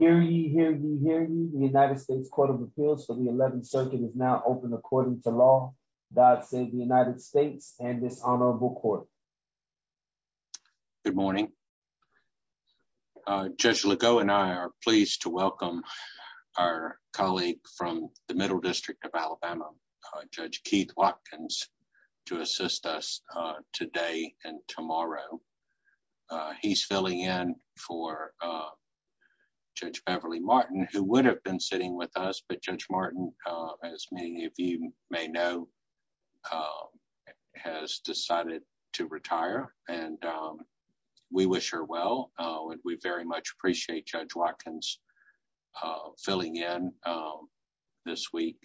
Hear ye, hear ye, hear ye. The United States Court of Appeals for the 11th Circuit is now open according to law. God save the United States and this honorable court. Good morning. Judge Legault and I are pleased to welcome our colleague from the Middle District of Alabama, Judge Keith Watkins, to assist us today and tomorrow. He's filling in for Judge Beverly Martin who would have been sitting with us, but Judge Martin, as many of you may know, has decided to retire and we wish her well and we very much appreciate Judge Watkins filling in this week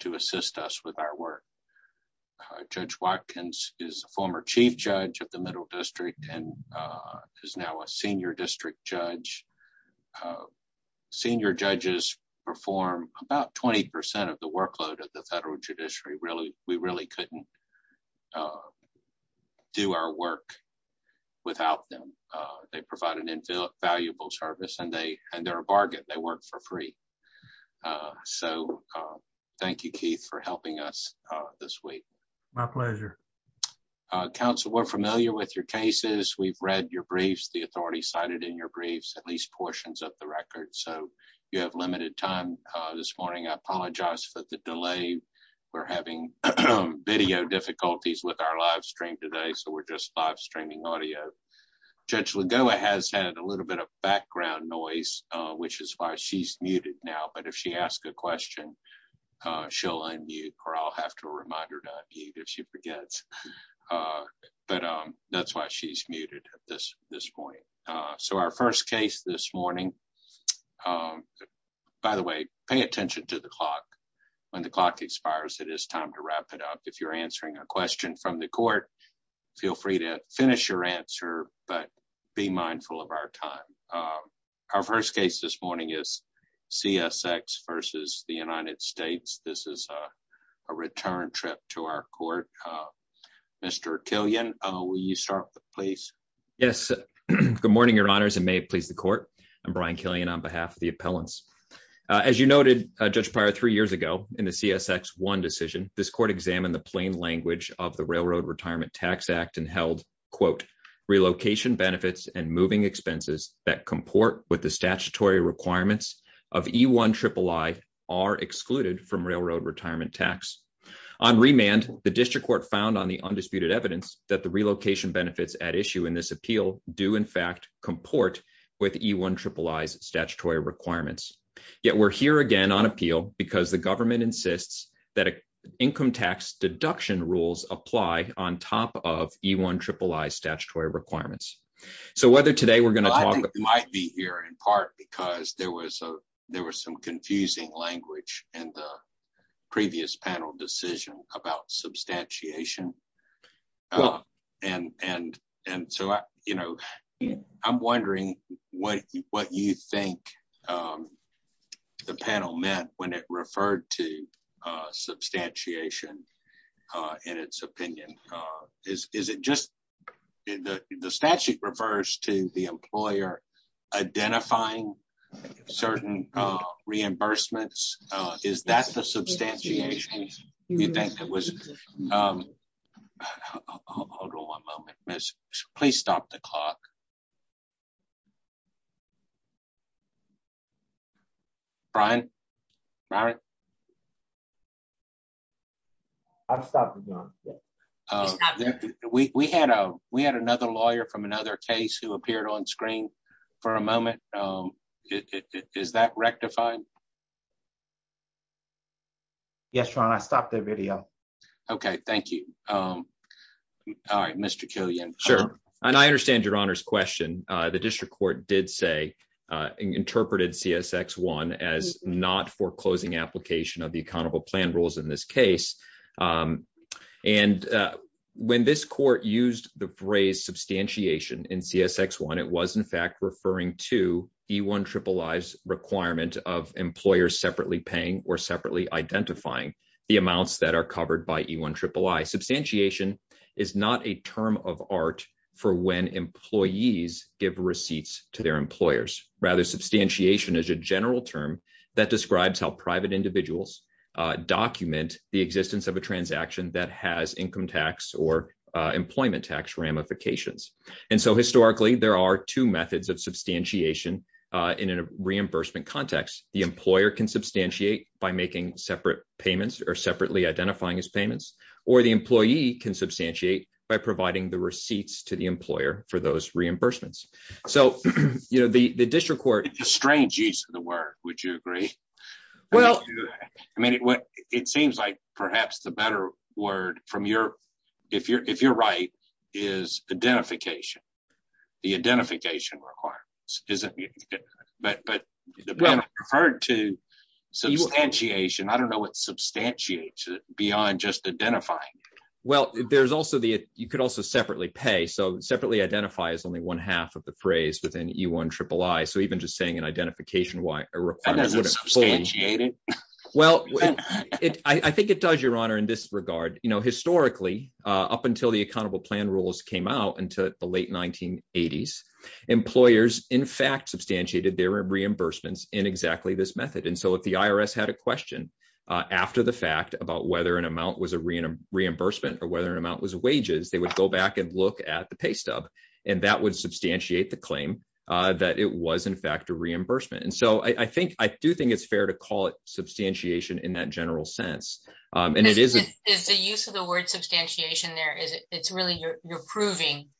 to assist us with our work. Judge Watkins is a former Chief Judge of the Middle District and is now a Senior District Judge. Senior judges perform about 20 percent of the workload of the federal judiciary. We really couldn't do our work without them. They provide an invaluable service and they're a bargain. They work for free. So, thank you, Keith, for helping us this week. My pleasure. Council, we're familiar with your cases. We've read your briefs, the authority cited in your briefs, at least portions of the record, so you have limited time this morning. I apologize for the delay. We're having video difficulties with our live stream today, so we're just live streaming audio. Judge Lagoa has had a little bit of background noise, which is why she's muted now, but if she asks a question, she'll unmute or I'll have to remind her to unmute if she forgets, but that's why she's muted at this point. So, our first case this morning, by the way, pay attention to the clock. When the clock expires, it is time to wrap it up. If you're but be mindful of our time. Our first case this morning is CSX versus the United States. This is a return trip to our court. Mr. Killian, will you start, please? Yes. Good morning, your honors, and may it please the court. I'm Brian Killian on behalf of the appellants. As you noted, Judge Pryor, three years ago in the CSX1 decision, this court examined the plain language of the Railroad Retirement Tax Act and held, quote, relocation benefits and moving expenses that comport with the statutory requirements of E-I-I-I are excluded from railroad retirement tax. On remand, the district court found on the undisputed evidence that the relocation benefits at issue in this appeal do, in fact, comport with E-I-I-I's statutory requirements. Yet we're here again on appeal because the government insists that an income tax deduction rules apply on top of E-I-I-I's statutory requirements. So whether today we're going to talk... I think you might be here in part because there was some confusing language in the previous panel decision about substantiation. And so, you know, I'm wondering what you think the panel meant when it referred to substantiation in its opinion. Is it just the statute refers to the employer identifying certain reimbursements? Is that the substantiation you think that was... Hold on one moment, please stop the clock. Brian? Brian? I've stopped the clock. We had another lawyer from another case who appeared on screen for a moment. Is that rectifying? Yes, Ron, I stopped the video. Okay, thank you. All right, Mr. Killian. Sure, and I understand your Honor's question. The district court did say, interpreted CSX-1 as not foreclosing application of the accountable plan rules in this case. And when this court used the phrase substantiation in CSX-1, it was in fact referring to E-I-I-I's requirement of employers separately paying or separately identifying the amounts that are covered by E-I-I-I. Substantiation is not a term of art for when employees give receipts to their employers. Rather, substantiation is a general term that describes how private individuals document the existence of a transaction that has income tax or employment tax ramifications. And so historically, there are two methods of substantiation in a reimbursement context. The employer can substantiate by making separate payments or separately identifying as payments, or the employee can substantiate by providing the receipts to the employer for those reimbursements. So the district court- It's a strange use of the word, would you agree? Well- I mean, it seems like perhaps the better word, if you're right, is identification, the identification requirements. But when it's referred to substantiation, I don't know what substantiates it beyond just identifying. Well, you could also separately pay. So separately identify is only one half of the phrase within E-I-I-I. So even just saying an identification requirement- That doesn't substantiate it? Well, I think it does, Your Honor, in this regard. Historically, up until the accountable plan rules came out until the late 1980s, employers, in fact, substantiated their reimbursements in exactly this method. And so if the IRS had a question after the fact about whether an amount was a reimbursement or whether an amount was wages, they would go back and look at the pay stub, and that would substantiate the claim that it was, in fact, a reimbursement. And so I do think it's fair to call it substantiation in that general sense. And it is- Is the use of the word substantiation there, it's really you're proving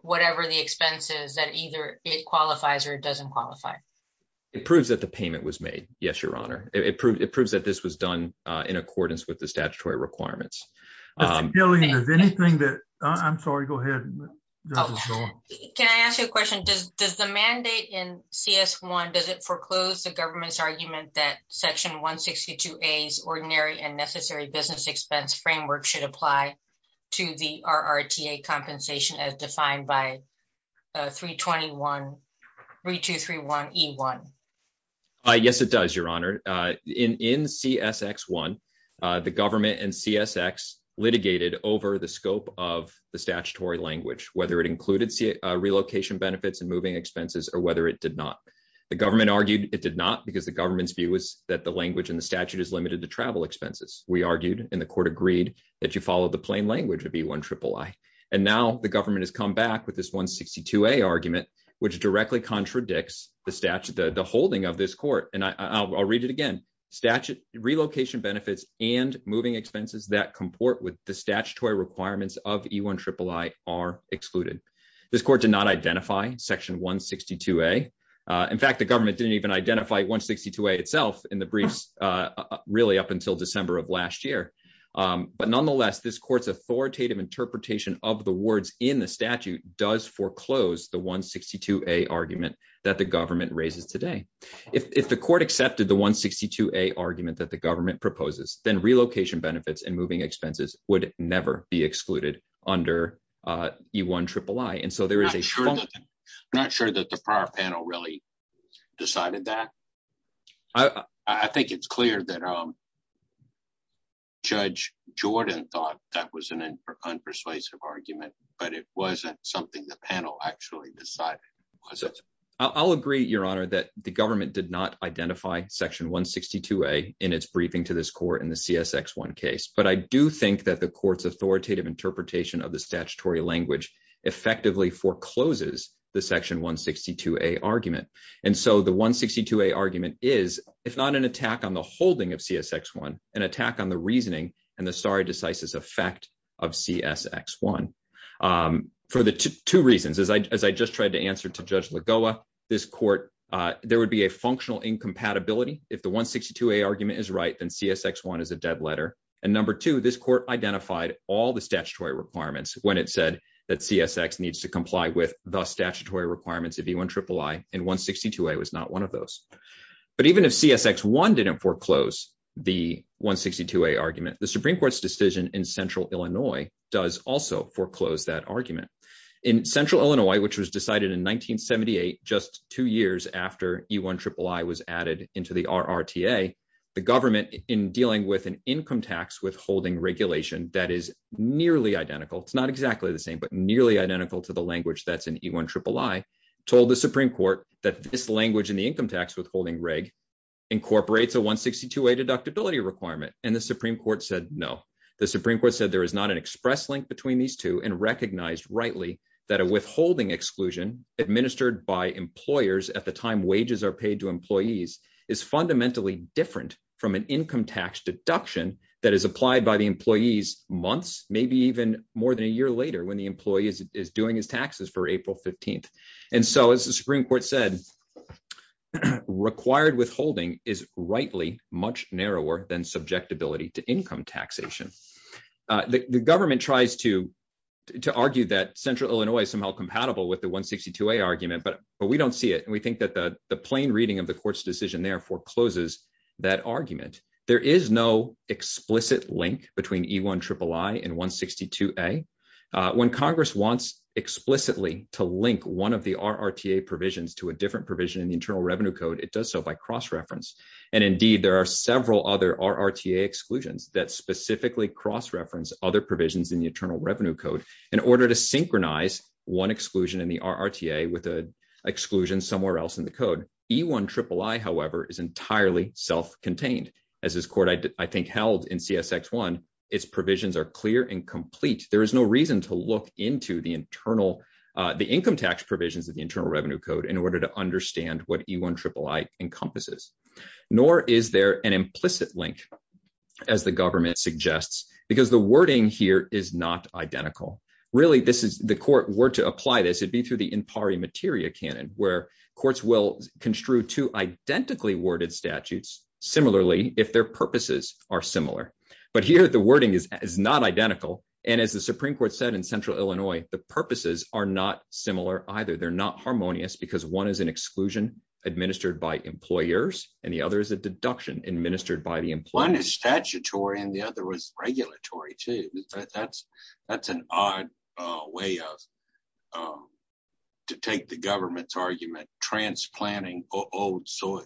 whatever the expenses that either it qualifies or it doesn't qualify? It proves that the payment was made. Yes, Your Honor. It proves that this was done in accordance with the statutory requirements. Mr. Gillian, is anything that... I'm sorry, go ahead. Can I ask you a question? Does the mandate in CS1, does it foreclose the government's argument that Section 162A's Ordinary and Necessary Business Expense Framework should apply to the RRTA compensation as defined by 3231E1? Yes, it does, Your Honor. In CSX1, the government and CSX litigated over the scope of the statutory language, whether it included relocation benefits and moving expenses or whether it did not. The government argued it did not because the language in the statute is limited to travel expenses. We argued and the court agreed that you follow the plain language of E162A. And now the government has come back with this 162A argument, which directly contradicts the holding of this court. And I'll read it again. Statute relocation benefits and moving expenses that comport with the statutory requirements of E162A are excluded. This court did not identify Section 162A. In fact, the government didn't even identify 162A itself in the briefs really up until December of last year. But nonetheless, this court's authoritative interpretation of the words in the statute does foreclose the 162A argument that the government raises today. If the court accepted the 162A argument that the government proposes, then relocation benefits and moving expenses would never be excluded under E1iii. I'm not sure that the prior panel really decided that. I think it's clear that Judge Jordan thought that was an unpersuasive argument, but it wasn't something the panel actually decided. I'll agree, Your Honor, that the government did not identify Section 162A in its briefing to this court in the CSX1 case. But I do think that the court's authoritative interpretation of the statutory language effectively forecloses the Section 162A argument. And so the 162A argument is, if not an attack on the holding of CSX1, an attack on the reasoning and the sari decisis effect of CSX1 for two reasons. As I just tried to answer to Judge Lagoa, this court, there would be a functional incompatibility. If the 162A argument is right, CSX1 is a dead letter. And number two, this court identified all the statutory requirements when it said that CSX needs to comply with the statutory requirements of E1iii, and 162A was not one of those. But even if CSX1 didn't foreclose the 162A argument, the Supreme Court's decision in Central Illinois does also foreclose that argument. In Central Illinois, which was decided in 1978, just two years after E1iii was added into the RRTA, the government in dealing with an income tax withholding regulation that is nearly identical, it's not exactly the same, but nearly identical to the language that's in E1iii, told the Supreme Court that this language in the income tax withholding reg incorporates a 162A deductibility requirement. And the Supreme Court said no. The Supreme Court said there is not an express link between these two and that a withholding exclusion administered by employers at the time wages are paid to employees is fundamentally different from an income tax deduction that is applied by the employees months, maybe even more than a year later when the employee is doing his taxes for April 15th. And so as the Supreme Court said, required withholding is rightly much narrower than subjectability to income taxation. The government tries to argue that Central Illinois is somehow compatible with the 162A argument, but we don't see it. And we think that the plain reading of the court's decision therefore closes that argument. There is no explicit link between E1iii and 162A. When Congress wants explicitly to link one of the RRTA provisions to a different provision in the Internal Revenue Code, it does so by cross-reference. And indeed, there are several other RRTA exclusions that specifically cross-reference other provisions in the Internal Revenue Code in order to synchronize one exclusion in the RRTA with an exclusion somewhere else in the code. E1iii, however, is entirely self-contained. As this court, I think, held in CSX-1, its provisions are clear and complete. There is no reason to look into the income tax provisions of the Internal Revenue Code in order to understand what E1iii encompasses. Nor is there an implicit link, as the government suggests, because the wording here is not identical. Really, if the court were to apply this, it'd be through the impari materia canon, where courts will construe two identically worded statutes, similarly, if their purposes are similar. But here, the wording is not identical. And as the Supreme Court said in Central Illinois, the purposes are not similar either. They're not harmonious because one is an exclusion administered by employers and the other is a deduction administered by the employer. One is statutory and the other is regulatory, too. That's an odd way of to take the government's argument, transplanting old soil.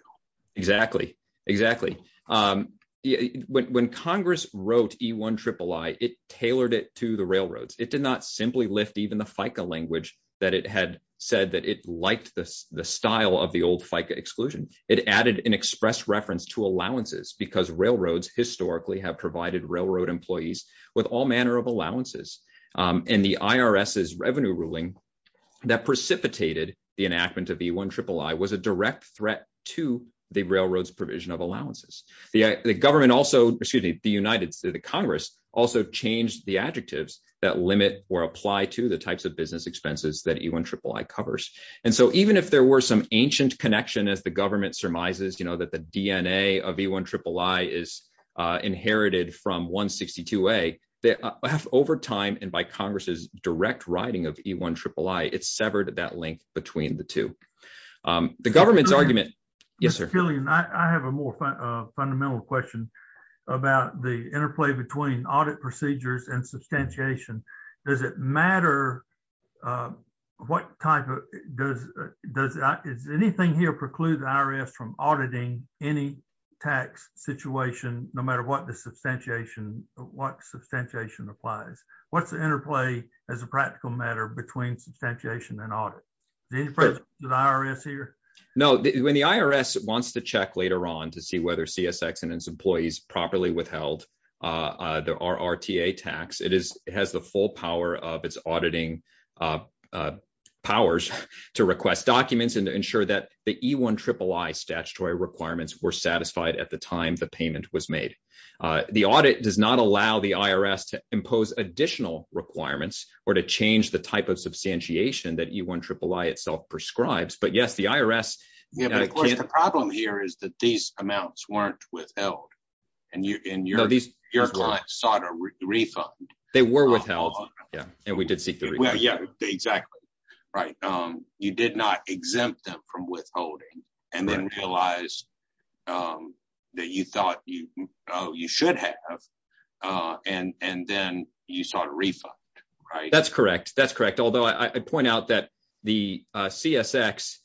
Exactly. Exactly. When Congress wrote E1iii, it tailored it to the railroads. It did not simply lift even the FICA language that it had said that it liked the style of the old FICA exclusion. It added an express reference to allowances because railroads historically have provided railroad employees with all manner of allowances. And the IRS's revenue ruling that precipitated the enactment of E1iii was a direct threat to the railroad's provision of allowances. The government also, excuse me, the United States Congress also changed the adjectives that limit or apply to the types of business expenses that E1iii covers. And so even if there were some ancient connection, as the government surmises, you know, that the DNA of E1iii is inherited from 162A, over time and by Congress's direct writing of E1iii, it's severed that link between the two. The government's argument... Yes, sir. Mr. Killian, I have a more fundamental question about the interplay between audit procedures and substantiation. Does it matter what type of... Does anything here preclude the IRS from auditing any tax situation, no matter what the substantiation, what substantiation applies? What's the interplay as a practical matter between substantiation and audit? Is there any presence of the IRS here? No. When the IRS wants to check later on to see whether CSX and its employees properly withheld the RRTA tax, it has the full power of its auditing powers to request documents and to ensure that the E1iii statutory requirements were satisfied at the time the payment was made. The audit does not allow the IRS to impose additional requirements or to change the type of substantiation that E1iii itself prescribes, but yes, the IRS... The problem here is that these amounts weren't withheld and your client sought a refund. They were withheld, yeah, and we did seek the refund. Yeah, exactly, right. You did not exempt them from withholding and then realized that you thought you should have and then you sought a refund, right? That's correct. That's correct. Although I point out that the CSX,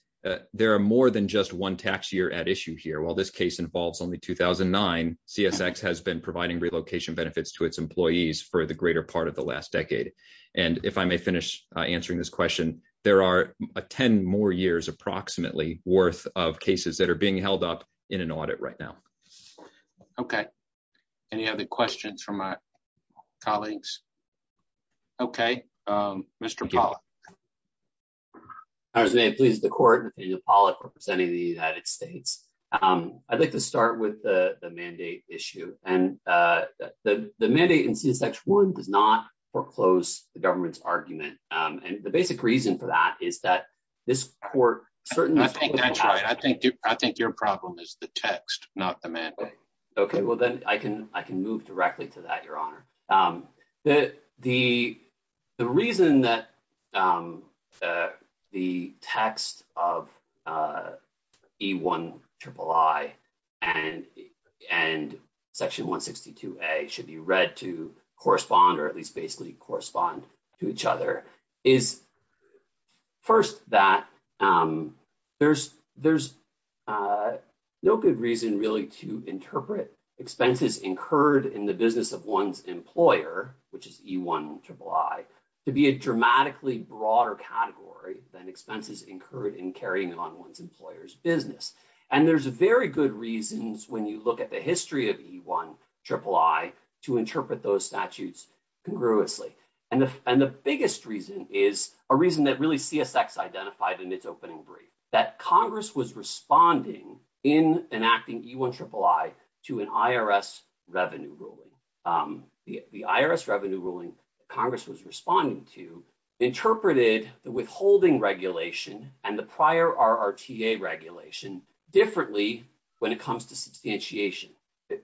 there are more than just one tax year at issue here. While this case involves only 2009, CSX has been providing relocation benefits to its employees for the greater part of the last decade. And if I may finish answering this question, there are 10 more years approximately worth of cases that are being held up in an audit right now. Okay. Any other questions from my colleagues? Okay. Mr. Pollack. I was going to please the court, Nathaniel Pollack representing the United States. I'd like to start with the mandate issue. And the mandate in CSX1 does not foreclose the government's argument. And the basic reason for that is that this court certainly... I think your problem is the text, not the mandate. Okay. Well, then I can move directly to that, Your Honor. The reason that the text of E1iii and section 162a should be read to the public is because there's no good reason really to interpret expenses incurred in the business of one's employer, which is E1iii, to be a dramatically broader category than expenses incurred in carrying on one's employer's business. And there's very good reasons when you look at the history of E1iii to interpret those statutes congruously. And the biggest reason is a reason really CSX identified in its opening brief, that Congress was responding in enacting E1iii to an IRS revenue ruling. The IRS revenue ruling Congress was responding to interpreted the withholding regulation and the prior RRTA regulation differently when it comes to substantiation.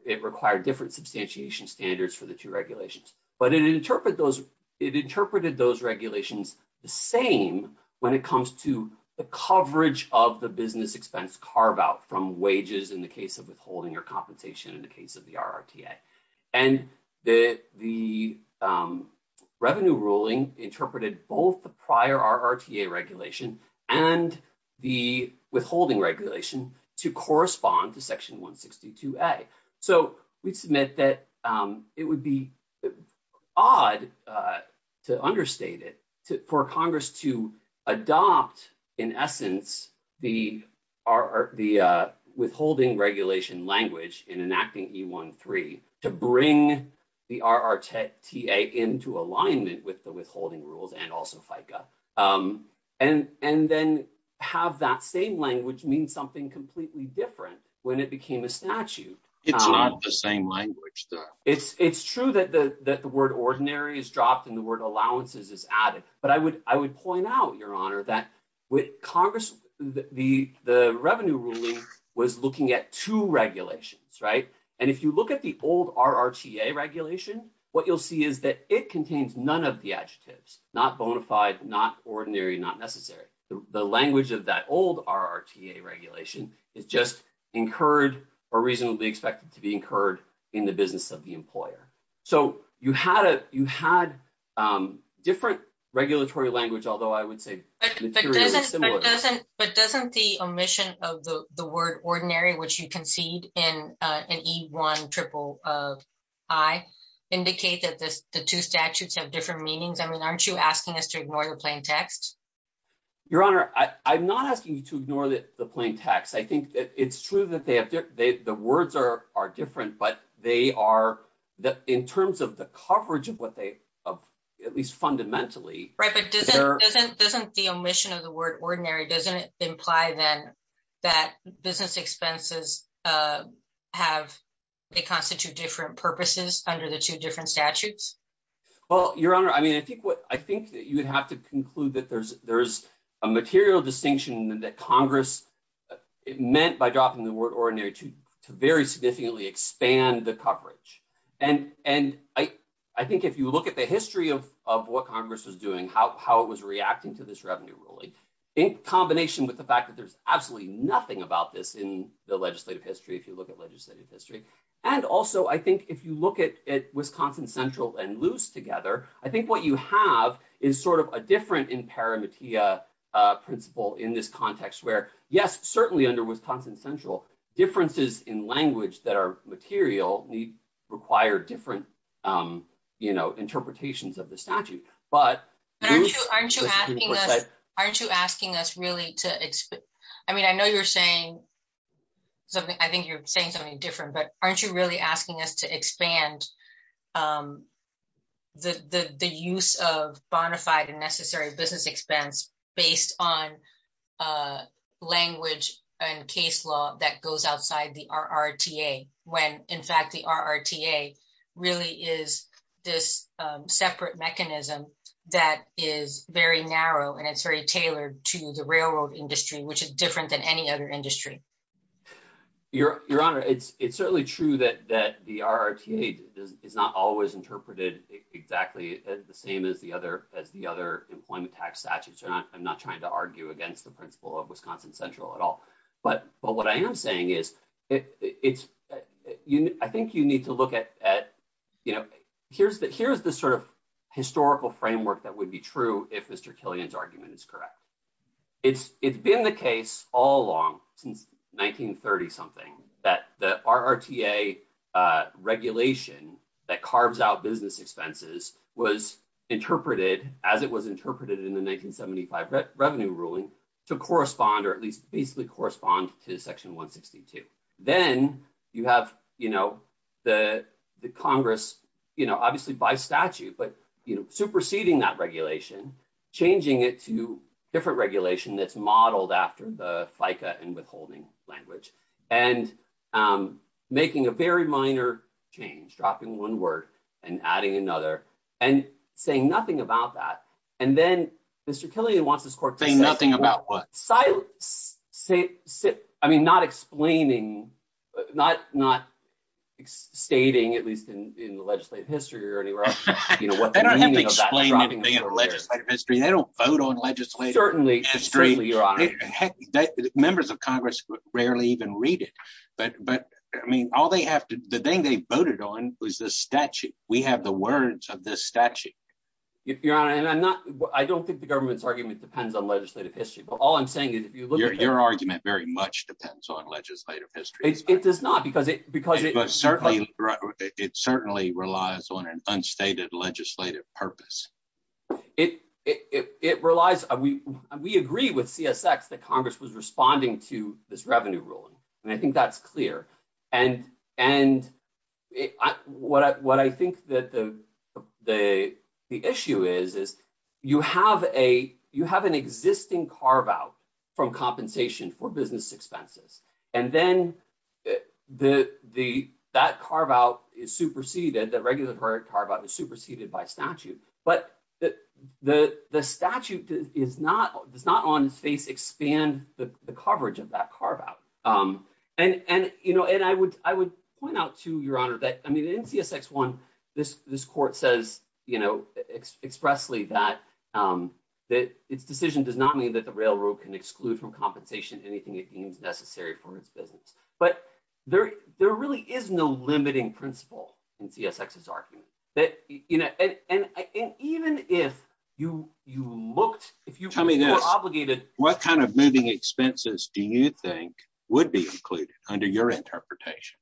It required different substantiation standards for the two regulations, but it interpreted those regulations the same when it comes to the coverage of the business expense carve out from wages in the case of withholding or compensation in the case of the RRTA. And the revenue ruling interpreted both the prior RRTA regulation and the withholding regulation to correspond to section 162a. So we submit that it would be odd to understate it for Congress to adopt in essence the withholding regulation language in enacting E1iii to bring the RRTA into alignment with the withholding rules and also FICA. And then have that same which means something completely different when it became a statute. It's not the same language. It's true that the word ordinary is dropped and the word allowances is added. But I would point out your honor that with Congress, the revenue ruling was looking at two regulations. And if you look at the old RRTA regulation, what you'll see is that it contains none of the adjectives, not bona fide, not ordinary, not necessary. The language of that old RRTA regulation is just incurred or reasonably expected to be incurred in the business of the employer. So you had different regulatory language, although I would say But doesn't the omission of the word ordinary, which you concede in an E1iii indicate that the two statutes have different meanings? I mean, aren't you asking us to ignore the plain text? Your honor, I'm not asking you to ignore the plain text. I think it's true that the words are different, but in terms of the coverage of what they, at least fundamentally Doesn't the omission of the word ordinary, doesn't it imply then that business expenses have, they constitute different purposes under the two different statutes? Well, your honor, I mean, I think that you would have to conclude that there's a material distinction that Congress meant by dropping the word ordinary to very significantly expand the coverage. And I think if you look at the history of what Congress was doing, how it was reacting to this revenue ruling, in combination with the fact that there's absolutely nothing about this in the legislative history, if you look at legislative history. And also, I think if you look at Wisconsin Central and Luce together, I think what you have is sort of a different in parametia principle in this context where, yes, certainly under Wisconsin Central, differences in language that are material require different interpretations of the statute. But Aren't you asking us really to, I mean, I know you're saying something, I think you're saying something different, but aren't you really asking us to expand the use of bona fide and necessary business expense based on language and case law that goes outside the RRTA, when in fact the RRTA really is this separate mechanism that is very narrow and it's very tailored to the railroad industry, which is different than any other industry? Your Honor, it's certainly true that the RRTA is not always interpreted exactly the same as the other employment tax statutes. I'm not trying to argue against the principle of Wisconsin Central at all. But what I am saying is it's, I think you need to look at, you know, here's the sort of historical framework that would be true if Mr. Killian's argument is correct. It's been the case all along since 1930-something that the RRTA regulation that carves out business expenses was interpreted as it was interpreted in the 1975 revenue ruling to correspond or at least basically correspond to section 162. Then you have, you know, the Congress, you know, obviously by statute, but you know, superseding that regulation, changing it to different regulation that's modeled after the FICA and withholding language and making a very minor change, dropping one word and adding another and saying nothing about that. And then Mr. Killian wants this court to say nothing about silence. I mean, not explaining, not stating, at least in the legislative history or anywhere else. They don't have to explain anything in the legislative history. They don't vote on legislative history. Members of Congress rarely even read it. But I mean, all they have to, the thing they voted on was the statute. We have the words of this statute. Your Honor, and I'm not, I don't think the government's argument depends on legislative history, but all I'm saying is if you look at it. Your argument very much depends on legislative history. It does not, because it, because it certainly relies on an unstated legislative purpose. It relies, we agree with CSX that Congress was responding to this revenue ruling. And I think that's clear. And what I think that the issue is, is you have an existing carve-out from compensation for business expenses. And then that carve-out is superseded, that regular carve-out is superseded by statute. But the statute does not on its face expand the coverage of that carve-out. And, and, you know, and I would, I would point out to Your Honor that, I mean, in CSX one, this, this court says, you know, expressly that, that its decision does not mean that the railroad can exclude from compensation anything it deems necessary for its business. But there, there really is no limiting principle in CSX's argument. That, you know, and, and even if you, you looked, if you were obligated. What kind of moving expenses do you think would be included under your interpretation?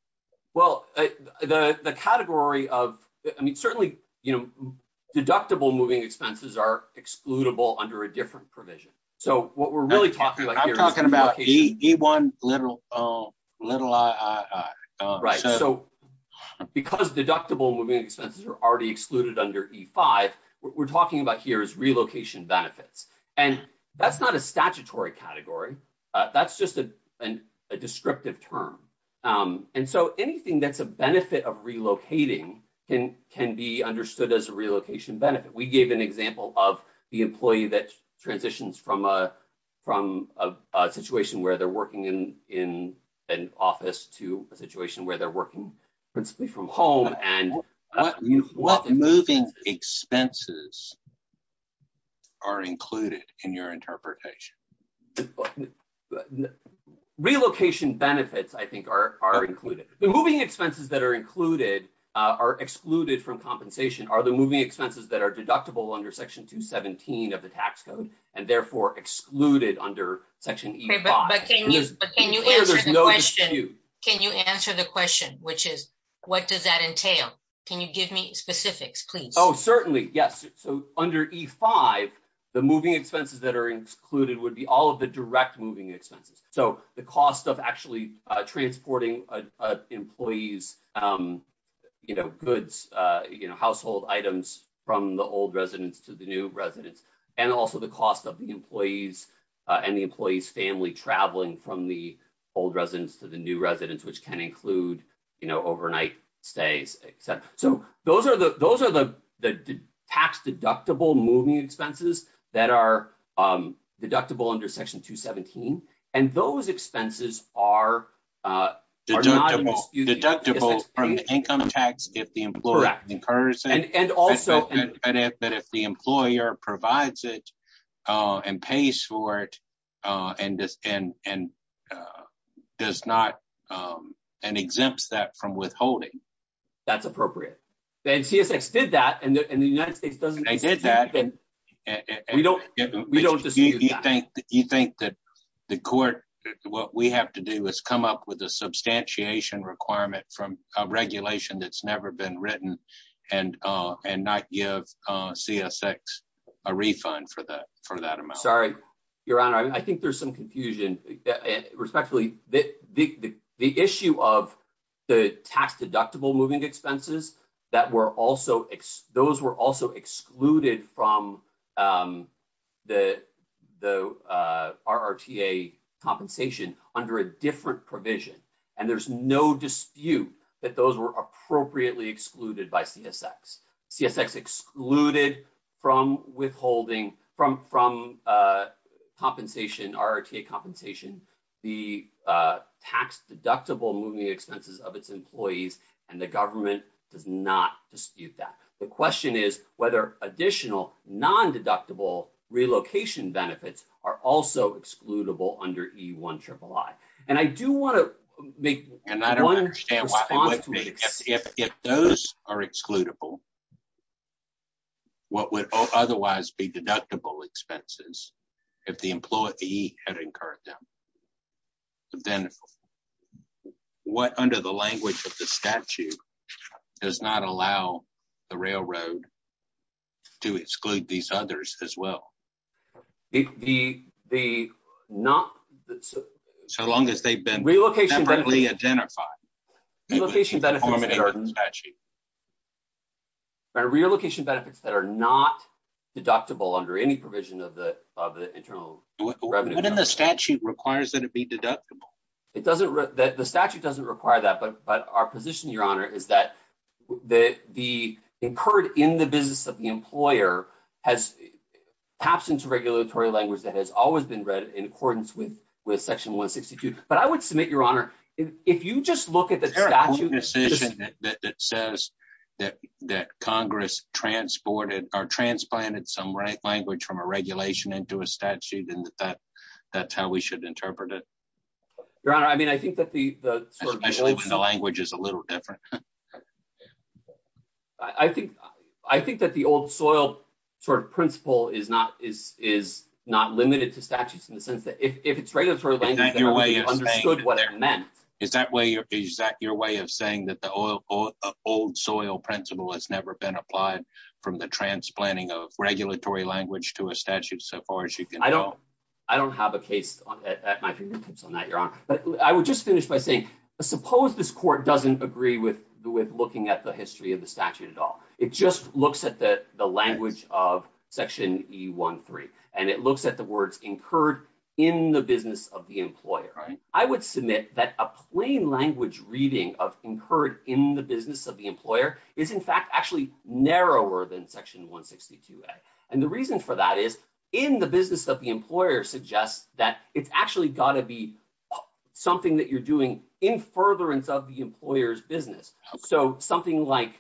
Well, the, the category of, I mean, certainly, you know, deductible moving expenses are excludable under a different provision. So what we're really talking about here. I'm talking about E1, little, little I, I, I. So because deductible moving expenses are already excluded under E5, what we're talking about here is relocation benefits. And that's not a statutory category. That's just a descriptive term. And so anything that's a benefit of relocating can, can be understood as a relocation benefit. We gave an example of the employee that transitions from a, a situation where they're working in, in an office to a situation where they're working principally from home and. What moving expenses are included in your interpretation? Relocation benefits, I think are, are included. The moving expenses that are included, are excluded from compensation are the moving expenses that are deductible under section 217 of the tax code and therefore excluded under section E5. Can you answer the question, which is what does that entail? Can you give me specifics, please? Oh, certainly. Yes. So under E5, the moving expenses that are excluded would be all of the direct moving expenses. So the cost of actually transporting employees, goods, household items from the old residence to the new residence, and also the cost of the employees and the employee's family traveling from the old residence to the new residence, which can include, you know, overnight stays, et cetera. So those are the, those are the, the tax deductible moving expenses that are deductible under section 217. And those expenses are deductible from the income tax if the employer incurs it. But if the employer provides it and pays for it and does not, and exempts that from withholding. That's appropriate. And CSX did that, and the United States doesn't exempt them. They did that. We don't, we don't dispute that. You think that the court, what we have to do is come up with a substantiation requirement from a regulation that's never been written and not give CSX a refund for that amount. Sorry, Your Honor, I think there's some confusion. Respectfully, the issue of the tax deductible moving expenses that were also, those were also excluded from the RRTA compensation under a different provision. And there's no dispute that those were appropriately excluded by CSX. CSX excluded from withholding, from, from compensation, RRTA compensation, the tax deductible moving expenses of its employees. And the government does not dispute that. The question is whether additional non-deductible relocation benefits are also excludable under E-III. And I do want to make one response to this. If those are excludable, what would otherwise be deductible expenses if the employee had incurred them? Then what, under the language of the statute, does not allow the railroad to exclude these others as well? The, the, not... So long as they've been separately identified. Relocation benefits that are not deductible under any provision of the, of the internal revenue. What in the statute requires that it be deductible? It doesn't, the statute doesn't require that, but, but our position, Your Honor, is that the, the incurred in the business of the employer has, taps into regulatory language that has always been read in accordance with, with section 162. But I would submit, Your Honor, if you just look at the statute... There's no decision that says that, that Congress transported or transplanted some right language from a regulation into a statute and that, that's how we should interpret it. Your Honor, I mean, I think that the, the sort of... Especially when the language is a little different. I think, I think that the old soil sort of principle is not, is, is not limited to statutes in the sense that if it's regulatory language... Is that your way of saying that the old soil principle has never been applied from the transplanting of regulatory language to a statute so far as you can go? I don't, I don't have a case at my fingertips on that, Your Honor. But I would just finish by saying, suppose this court doesn't agree with, with looking at the history of the statute at all. It just looks at the, the language of section E-1-3 and it looks at the words incurred in the business of the employer. I would submit that a plain language reading of incurred in the business of the employer is in fact actually narrower than section 162-A. And the reason for that is in the business of the employer suggests that it's actually gotta be something that you're doing in furtherance of the employer's business. So something like,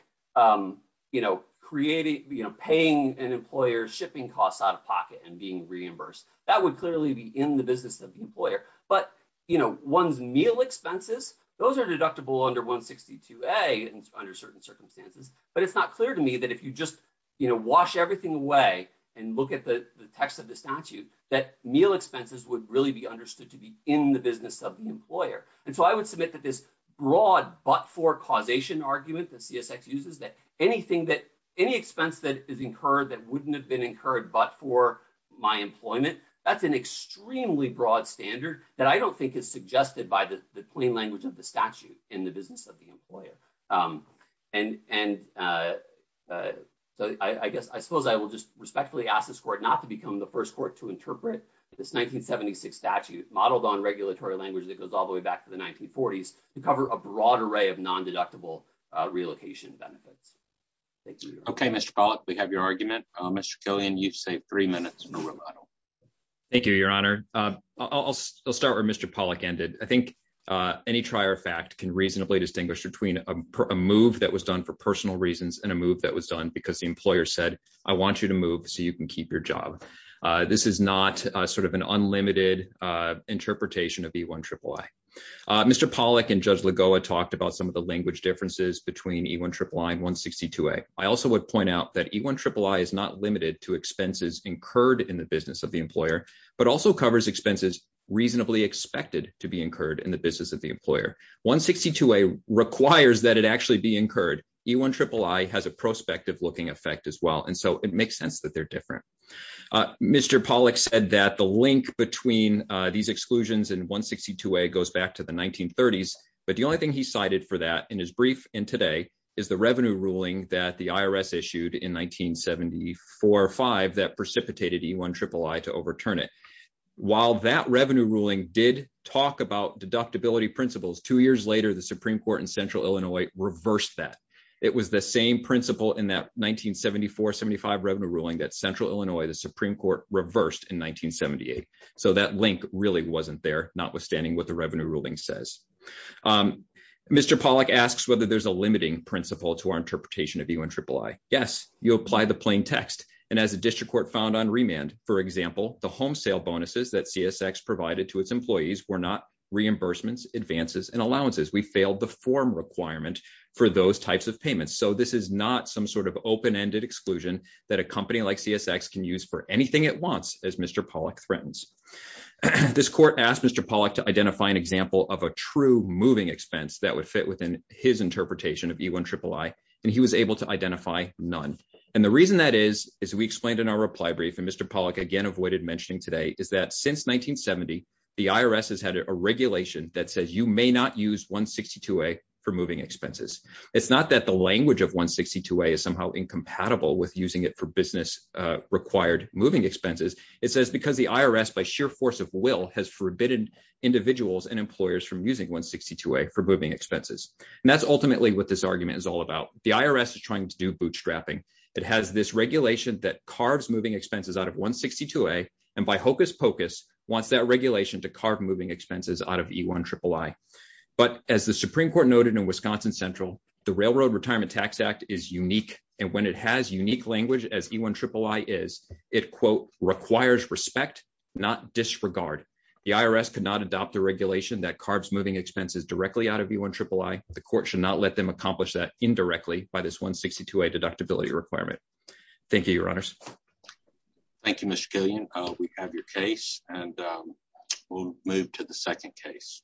you know, creating, you know, paying an employer shipping costs out of pocket and being reimbursed. That would clearly be in the business of the employer. But, you know, one's meal expenses, those are deductible under 162-A under certain circumstances. But it's not clear to me that if you just, you know, wash everything away and look at the text of the statute, that meal expenses would really be understood to be in the business of the employer. And so I would submit that this broad but-for causation argument that CSX uses, that anything that, any expense that is incurred that wouldn't have been incurred but for my employment, that's an extremely broad standard that I don't think is suggested by the plain language of the statute in the business of the employer. And so I guess, I suppose I will just respectfully ask this court not to become the first court to interpret this 1976 statute modeled on regulatory language that goes all the way back to the 1940s to cover a broad array of non-deductible relocation benefits. Okay, Mr. Pollack, we have your argument. Mr. Killian, you've saved three minutes. Thank you, Your Honor. I'll start where Mr. Pollack ended. I think any trier fact can reasonably distinguish between a move that was done for personal reasons and a move that was done because the employer said, I want you to move so you can keep your job. This is not sort of an unlimited interpretation of E-I-I-I. Mr. Pollack and Judge Lagoa talked about some of the language differences between E-I-I-I and 162A. I also would point out that E-I-I-I is not limited to expenses incurred in the business of the employer, but also covers expenses reasonably expected to be incurred in the business of the employer. 162A requires that it actually be incurred. E-I-I-I has a prospective looking effect as well. And so it makes sense that they're different. Mr. Pollack said that the link between these exclusions and 162A goes back to the 1930s. But the only thing he cited for that in his brief and today is the revenue ruling that the IRS issued in 1974-5 that precipitated E-I-I-I to overturn it. While that revenue ruling did talk about deductibility principles, two years later, the Supreme Court in Central Illinois reversed that. It was the same principle in that 1974-75 revenue ruling that Central Illinois, the Supreme Court reversed in 1978. So that link really wasn't there, notwithstanding what the revenue ruling says. Mr. Pollack asks whether there's a limiting principle to our interpretation of E-I-I-I. Yes, you apply the plain text. And as the district court found on remand, for example, the home sale bonuses that CSX provided to its employees were not reimbursements, advances, and allowances. We failed the form requirement for those types of payments. So this is not some sort of open-ended exclusion that a company like CSX can use for anything it wants, as Mr. Pollack threatens. This court asked Mr. Pollack to identify an example of a true moving expense that would fit within his interpretation of E-I-I-I, and he was able to identify none. And the reason that is, as we explained in our reply brief, and Mr. Pollack again avoided mentioning today, is that since 1970, the IRS has had a regulation that says you may not use 162A for moving expenses. It's not that the language of 162A is somehow incompatible with using it for business-required moving expenses. It says because the IRS, by sheer force of will, has forbidden individuals and employers from using 162A for moving expenses. And that's ultimately what this argument is all about. The IRS is trying to do bootstrapping. It has this regulation that carves moving expenses out of 162A, and by hocus pocus, wants that regulation to carve moving expenses out of E-I-I-I. But as the Supreme Court noted in Wisconsin Central, the Railroad Retirement Tax Act is unique. And when it has unique language as E-I-I-I is, it, quote, requires respect, not disregard. The IRS could not adopt a regulation that carves moving expenses directly out of E-I-I-I. The court should not let them accomplish that indirectly by this 162A deductibility requirement. Thank you, Your Honors. Thank you, Mr. Gillian. We have your case, and we'll move to the second case.